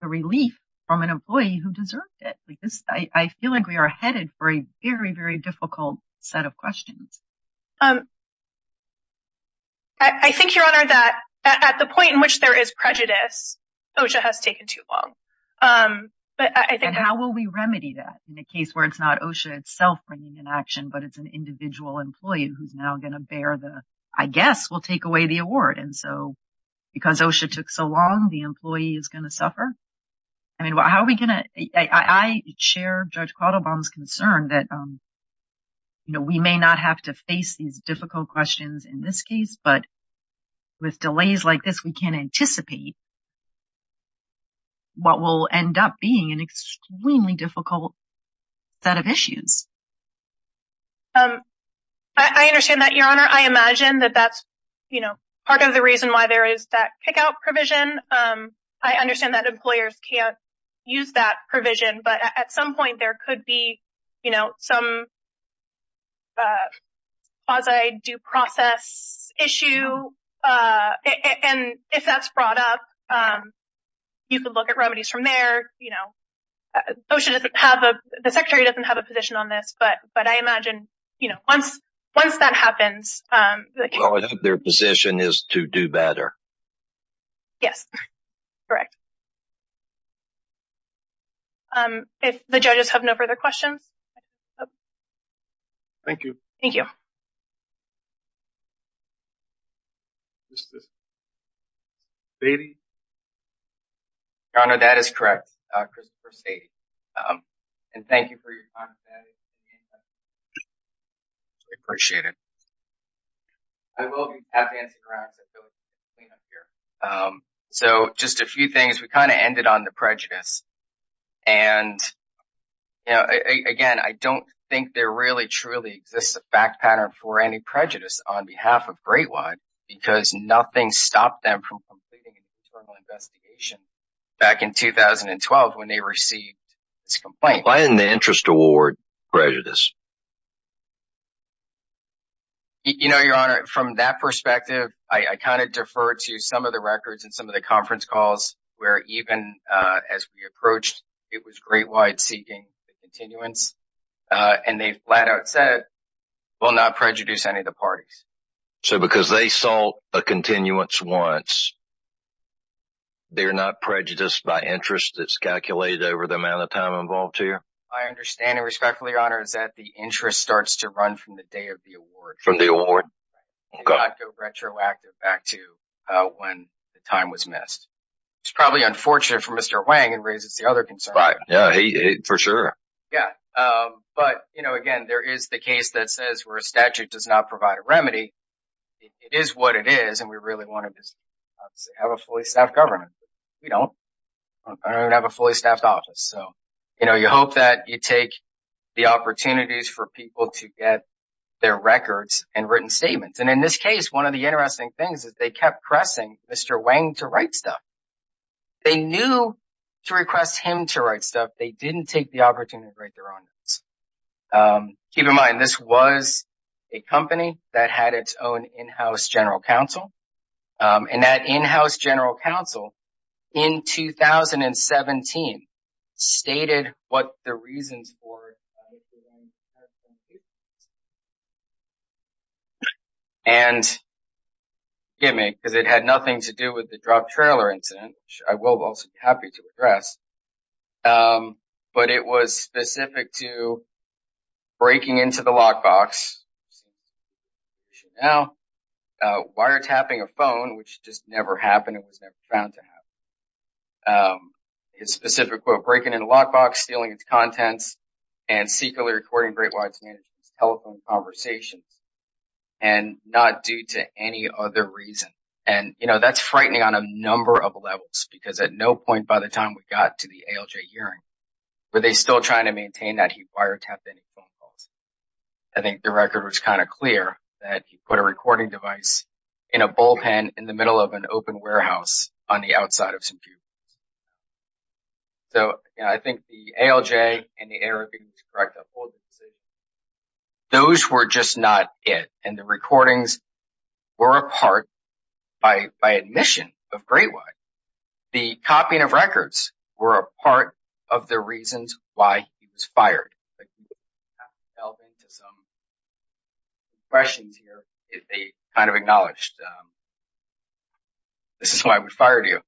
the relief from an employee who deserved it. Because I feel like we are headed for a very, very difficult set of questions. I think, Your Honor, that at the point in which there is prejudice, OSHA has taken too long. But I think how will we remedy that in a case where it's not OSHA itself bringing an action, but it's an individual employee who's now going to bear the, I guess, we'll take away the award. And so because OSHA took so long, the employee is going to suffer. I mean, how are we going to, I share Judge Quattlebaum's concern that, you know, we may not have to face these difficult questions in this case, but with delays like this, we can't anticipate what will end up being an extremely difficult set of issues. I understand that, Your Honor. I imagine that that's, you know, part of the reason why there is that kick out provision. I understand that employers can't use that provision. But at some point there could be, you know, some quasi due process issue. And if that's brought up, you could look at remedies from there, you know, OSHA doesn't have a, the secretary doesn't have a position on this. But but I imagine, you know, once once that happens, their position is to do better. Yes, correct. Thank you. Thank you. Is this Sadie? Your Honor, that is correct, Christopher Sadie. And thank you for your time. I appreciate it. I will be happy to answer questions. So just a few things, we kind of ended on the prejudice. And, you know, again, I don't think there really, truly exists a fact pattern for any prejudice on behalf of Great White. Because nothing stopped them from completing an internal investigation back in 2012 when they received this complaint. Why didn't the interest award prejudice? You know, Your Honor, from that perspective, I kind of defer to some of the records and some of the conference calls where even as we approached, it was Great White seeking continuance and they flat out said, we'll not prejudice any of the parties. So because they saw a continuance once. They're not prejudiced by interest that's calculated over the amount of time involved here. I understand and respectfully, Your Honor, is that the interest starts to run from the day of the award. From the award? They do not go retroactive back to when the time was missed. It's probably unfortunate for Mr. Wang and raises the other concern. Right. Yeah, for sure. Yeah. But, you know, again, there is the case that says where a statute does not provide a remedy, it is what it is. And we really want to have a fully staffed government. We don't have a fully staffed office. So, you know, you hope that you take the opportunities for people to get their records and written statements. And in this case, one of the interesting things is they kept pressing Mr. Wang to write stuff. They knew to request him to write stuff, they didn't take the opportunity to write their own notes. Keep in mind, this was a company that had its own in-house general counsel and that in-house general counsel in 2017 stated what the reasons for. And. Give me because it had nothing to do with the drop trailer incident. I will also be happy to address, but it was specific to breaking into the lockbox. Now, wiretapping a phone, which just never happened, it was never found to have a specific quote, breaking in a lockbox, stealing its contents and secretly recording great wide telephone conversations and not due to any other reason. And, you know, that's frightening on a number of levels, because at no point by the time we got to the ALJ hearing, were they still trying to maintain that he wiretapped any phone calls? I think the record was kind of clear that he put a recording device in a bullpen in the middle of an open warehouse on the outside of some computers. So I think the ALJ and the Arabian to correct that. Those were just not it, and the recordings were a part by by admission of great white. The copying of records were a part of the reasons why he was fired. I'll get to some. Questions here, they kind of acknowledged. This is why we fired you.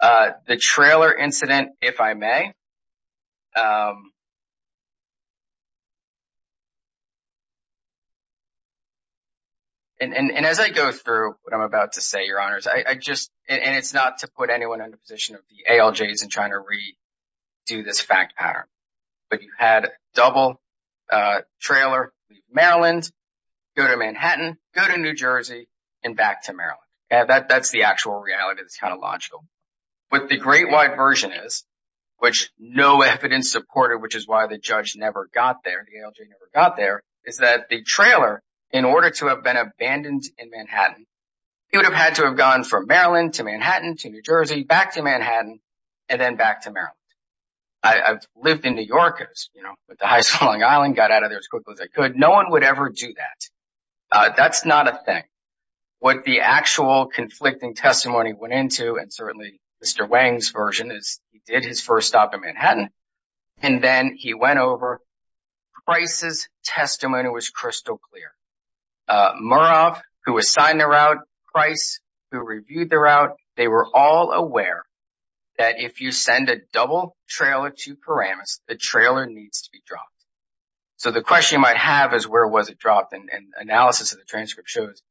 The trailer incident, if I may. And as I go through what I'm about to say, your honors, I just and it's not to put anyone in the position of the ALJs and trying to read, do this fact pattern. But you had double trailer, Maryland, go to Manhattan, go to New Jersey and back to Maryland. That's the actual reality. It's kind of logical. But the great white version is which no evidence supported, which is why the judge never got there, got there, is that the trailer, in order to have been abandoned in Manhattan, he would have had to have gone from Maryland to Manhattan, to New Jersey, back to Manhattan and then back to Maryland. I've lived in New York with the highest Long Island, got out of there as quickly as I could. No one would ever do that. That's not a thing. What the actual conflicting testimony went into and certainly Mr. Wang's version is he did his first stop in Manhattan. And then he went over Price's testimony was crystal clear. Murav, who was signed the route, Price, who reviewed the route. They were all aware that if you send a double trailer to Paramus, the trailer needs to be dropped. So the question you might have is, where was it dropped? And analysis of the transcript shows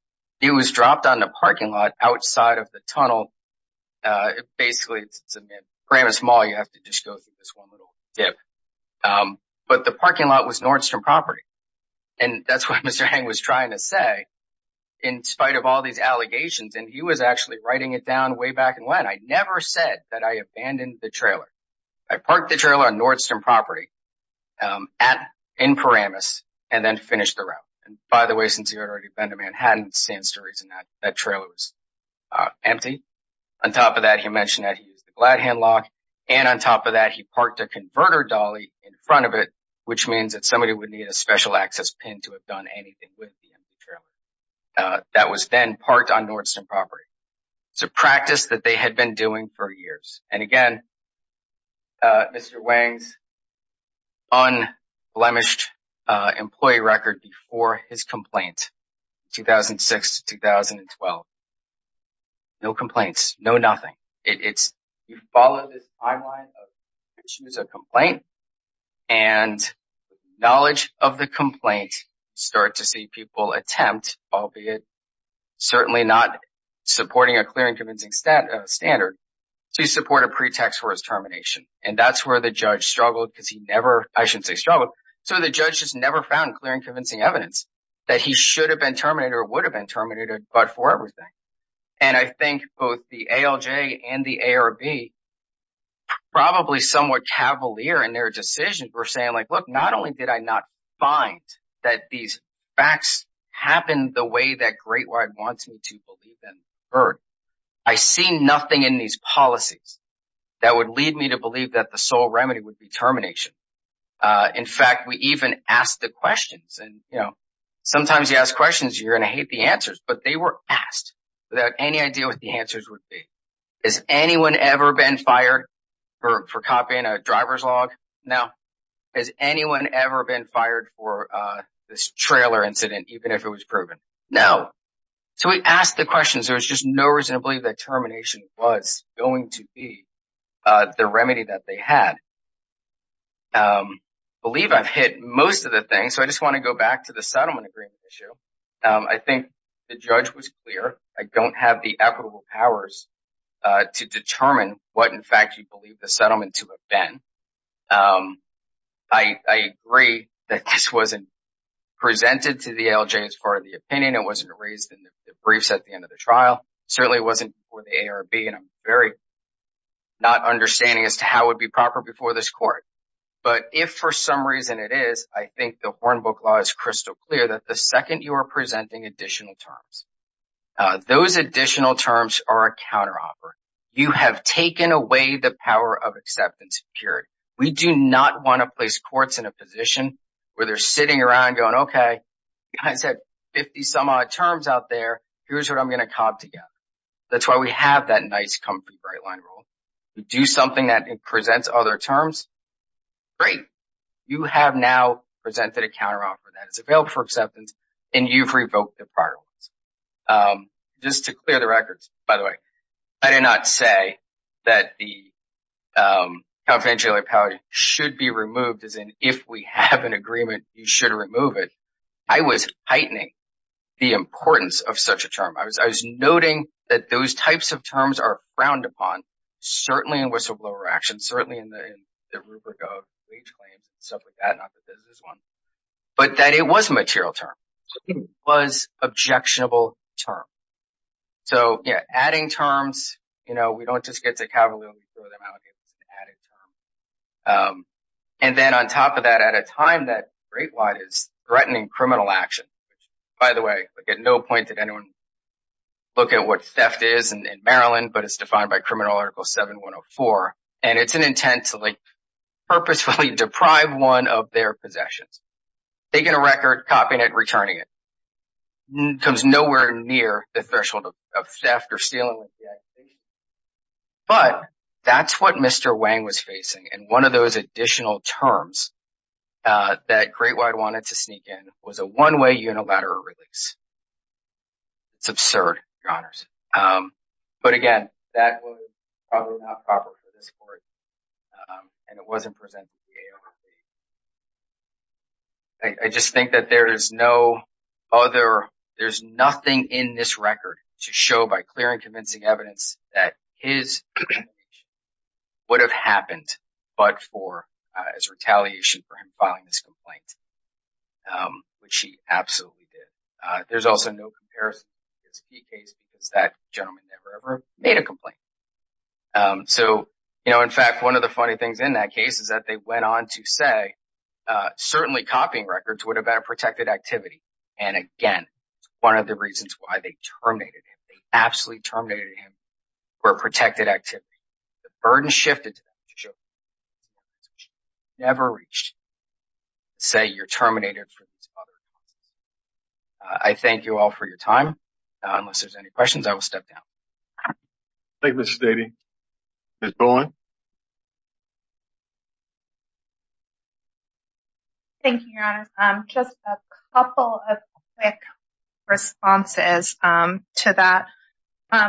it was dropped on the parking lot outside of the tunnel. Basically, Paramus Mall. You have to just go through this one little dip. But the parking lot was Nordstrom property. And that's what Mr. Wang was trying to say in spite of all these allegations. And he was actually writing it down way back. And when I never said that, I abandoned the trailer. I parked the trailer on Nordstrom property at in Paramus and then finished the route. And by the way, since he had already been to Manhattan, seeing stories in that trailer was empty. On top of that, he mentioned that he used a flat headlock and on top of that, he parked a converter dolly in front of it, which means that somebody would need a special access pin to have done anything with the trailer that was then parked on Nordstrom property. It's a practice that they had been doing for years. And again, Mr. Wang's unblemished employee record before his complaint 2006 to 2012. No complaints, no nothing. It's you follow this timeline of issues, a complaint and knowledge of the complaint. Start to see people attempt, albeit certainly not supporting a clear and convincing standard. So you support a pretext for his termination. And that's where the judge struggled because he never I should say struggled. So the judge has never found clear and convincing evidence that he should have been terminated or would have been terminated, but for everything. And I think both the ALJ and the ARB. Probably somewhat cavalier in their decisions were saying, look, not only did I not find that these facts happened the way that Great White wants me to believe them heard. I see nothing in these policies that would lead me to believe that the sole remedy would be termination. In fact, we even asked the questions and sometimes you ask questions, you're going to hate the answers. But they were asked without any idea what the answers would be. Has anyone ever been fired for copying a driver's log? Now, has anyone ever been fired for this trailer incident, even if it was proven? No. So we asked the questions. There's just no reason to believe that termination was going to be the remedy that they had. Believe I've hit most of the things, so I just want to go back to the settlement agreement issue. I think the judge was clear. I don't have the equitable powers to determine what, in fact, you believe the settlement to have been. I agree that this wasn't presented to the ALJ as far as the opinion. It wasn't raised in the briefs at the end of the trial. Certainly it wasn't for the ARB and I'm very not understanding as to how it would be proper before this court. But if for some reason it is, I think the Hornbook law is crystal clear that the second you are presenting additional terms, those additional terms are a counteroffer. You have taken away the power of acceptance and purity. We do not want to place courts in a position where they're sitting around going, OK, you guys have 50 some odd terms out there. Here's what I'm going to cop together. That's why we have that nice comfy right line rule. We do something that presents other terms. Great. You have now presented a counteroffer that is available for acceptance and you've revoked the prior ones. Just to clear the records, by the way, I did not say that the confidentiality power should be removed. As in, if we have an agreement, you should remove it. I was heightening the importance of such a term. I was noting that those types of terms are frowned upon, certainly in whistleblower action, certainly in the rubric of wage claims and stuff like that, not that this is one. But that it was a material term, it was an objectionable term. So, yeah, adding terms, you know, we don't just get to cavalry when we throw them out, it's an added term. And then on top of that, at a time that great wide is threatening criminal action. By the way, at no point did anyone look at what theft is in Maryland, but it's defined by criminal article 7104. And it's an intent to purposefully deprive one of their possessions, taking a record, copying it, returning it. Comes nowhere near the threshold of theft or stealing. But that's what Mr. Wang was facing, and one of those additional terms that great wide wanted to sneak in was a one way unilateral release. It's absurd, your honors. But again, that was probably not proper for this court. And it wasn't presented to the ARP. I just think that there is no other, there's nothing in this record to show by clear and convincing evidence that his would have happened, but for his retaliation for him filing this complaint, which he absolutely did. There's also no comparison case because that gentleman never ever made a complaint. So, you know, in fact, one of the funny things in that case is that they went on to say certainly copying records would have been a protected activity. And again, one of the reasons why they terminated him, they absolutely terminated him for a protected activity. The burden shifted to show never reached. Say you're terminated. I thank you all for your time. Unless there's any questions, I will step down. Thank you, Mr. Daly. Ms. Bowen. Thank you, your honors. Just a couple of quick responses to that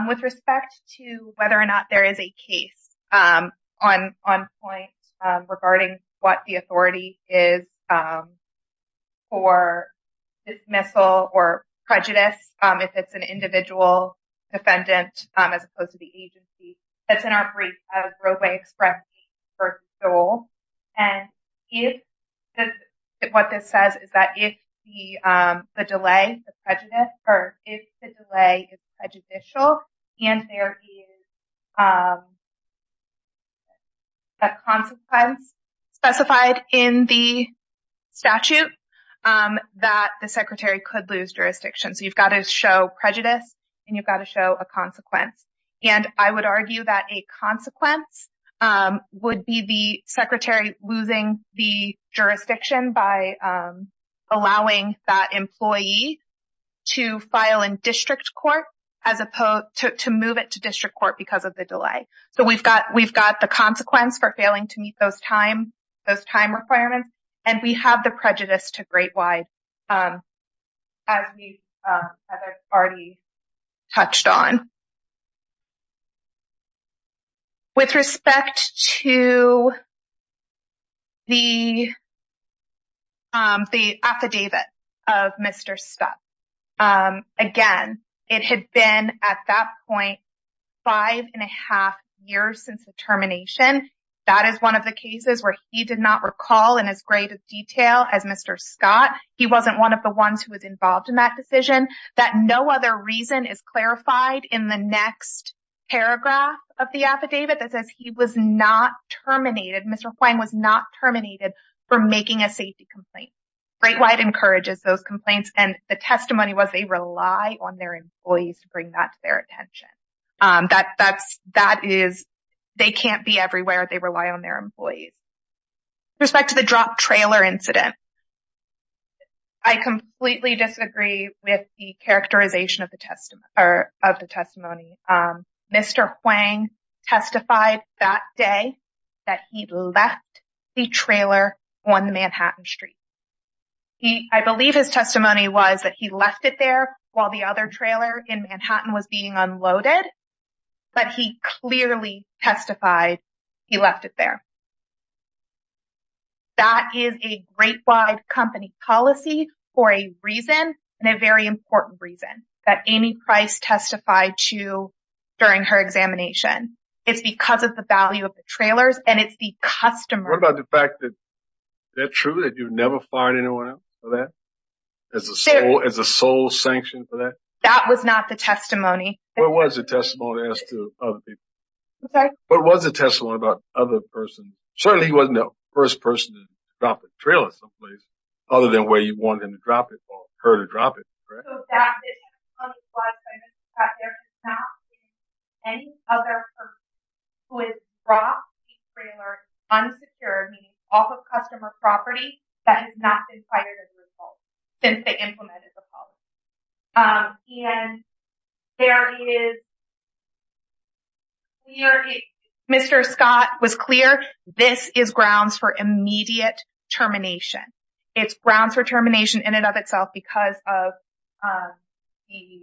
with respect to whether or not there is a case on on point regarding what the authority is. For dismissal or prejudice, if it's an individual defendant as opposed to the agency, that's in our brief as Roe v. Express first goal. And if what this says is that if the delay, the prejudice or if the delay is prejudicial and there is a consequence specified in the statute that the secretary could lose jurisdiction. So you've got to show prejudice and you've got to show a consequence. And I would argue that a consequence would be the secretary losing the jurisdiction by allowing that employee to file in district court as opposed to move it to district court because of the delay. So we've got we've got the consequence for failing to meet those time those time requirements. And we have the prejudice to great wide. As we have already touched on. With respect to. The. The affidavit of Mr. Scott, again, it had been at that point five and a half years since the termination. That is one of the cases where he did not recall in as great a detail as Mr. Scott. He wasn't one of the ones who was involved in that decision that no other reason is clarified in the next paragraph of the affidavit that says he was not terminated. Mr. Hwang was not terminated for making a safety complaint. Great white encourages those complaints. And the testimony was they rely on their employees to bring that to their attention. That that's that is they can't be everywhere. They rely on their employees. Respect to the drop trailer incident. I completely disagree with the characterization of the testimony or of that the trailer on the Manhattan Street. He I believe his testimony was that he left it there while the other trailer in Manhattan was being unloaded. But he clearly testified he left it there. That is a great wide company policy for a reason and a very important reason that Amy Price testified to during her examination, it's because of the value of the trailers and it's the customer about the fact that they're true, that you've never fired anyone for that as a as a sole sanction for that. That was not the testimony. It was a testimony as to other people. What was the testimony about other persons? Certainly he wasn't the first person to drop a trailer someplace other than where you want him to drop it or her to drop it. So that's why there is not any other who is brought a trailer unsecured off of customer property that has not been fired as a result since they implemented the policy. And there is. We are Mr. Scott was clear, this is grounds for immediate termination, it's grounds for termination in and of itself because of the.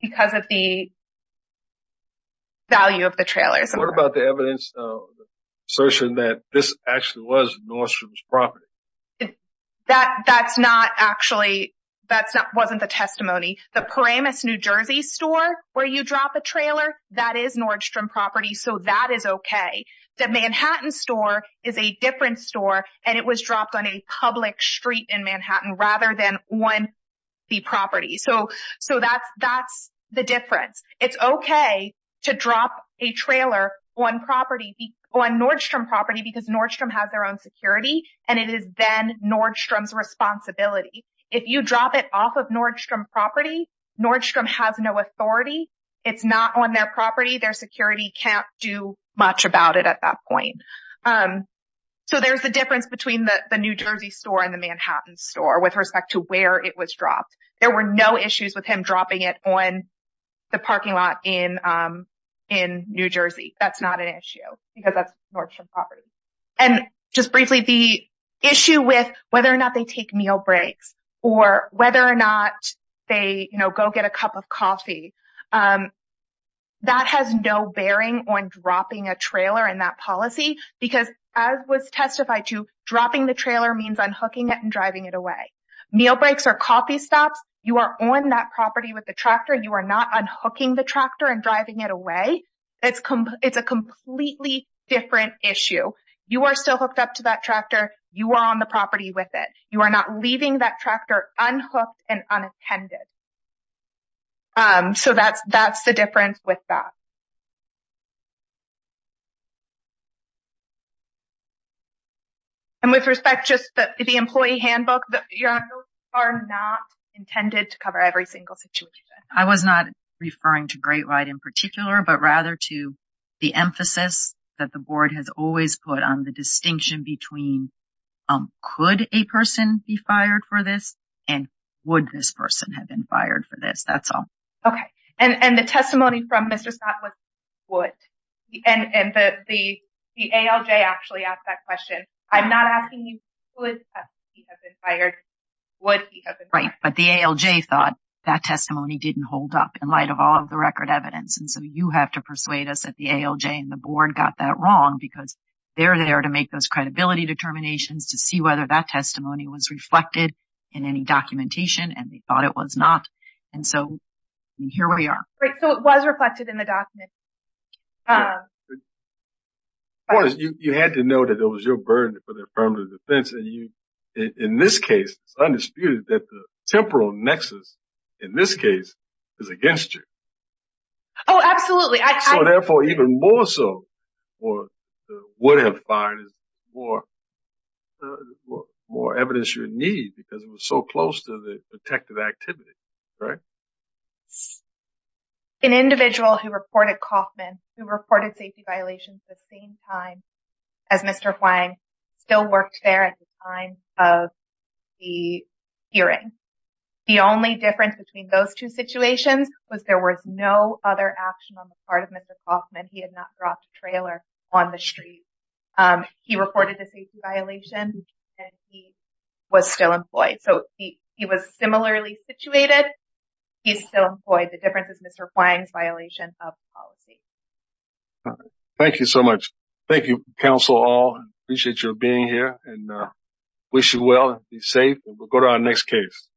Because of the. Value of the trailers, what about the evidence assertion that this actually was Nordstrom's property, that that's not actually that's not wasn't the testimony, the Paramus, New Jersey store where you drop a trailer that is Nordstrom property. So that is OK. The Manhattan store is a different store and it was dropped on a public street in Manhattan rather than one the property. So so that's that's the difference. It's OK to drop a trailer on property on Nordstrom property because Nordstrom has their own security and it is then Nordstrom's responsibility if you drop it off of Nordstrom property. Nordstrom has no authority. It's not on their property. Their security can't do much about it at that point. So there's the difference between the New Jersey store and the Manhattan store with respect to where it was dropped. There were no issues with him dropping it on the parking lot in in New Jersey. That's not an issue because that's Nordstrom property. And just briefly, the issue with whether or not they take meal breaks or whether or not they go get a cup of coffee. That has no bearing on dropping a trailer in that policy, because as was testified to, dropping the trailer means unhooking it and driving it away, meal breaks or coffee stops. You are on that property with the tractor. You are not unhooking the tractor and driving it away. It's it's a completely different issue. You are still hooked up to that tractor. You are on the property with it. You are not leaving that tractor unhooked and unattended. So that's that's the difference with that. And with respect just to the employee handbook, you are not intended to cover every single situation. I was not referring to Great White in particular, but rather to the emphasis that the board has always put on the distinction between could a person be fired for this and would this person have been fired for this? That's all. OK. And the testimony from Mr. Scott was what? And the ALJ actually asked that question. I'm not asking you, would he have been fired? Would he have been fired? Right. But the ALJ thought that testimony didn't hold up in light of all of the record evidence. And so you have to persuade us that the ALJ and the board got that wrong because they're there to make those credibility determinations, to see whether that testimony was reflected in any documentation. And they thought it was not. And so here we are. Right. So it was reflected in the document. You had to know that it was your burden for their permanent defense. And you in this case, it's undisputed that the temporal nexus in this case is against you. Oh, absolutely. So therefore, even more so, would have fired more more evidence you need because it was so close to the detective activity. Right. An individual who reported Kaufman, who reported safety violations at the same time as Mr. Huang still worked there at the time of the hearing. The only difference between those two situations was there was no other action on the part of Mr. Kaufman. He had not dropped a trailer on the street. He reported a safety violation and he was still employed. So he was similarly situated. He's still employed. The difference is Mr. Huang's violation of the policy. Thank you so much. Thank you, counsel. I appreciate your being here and wish you well and be safe. We'll go to our next case.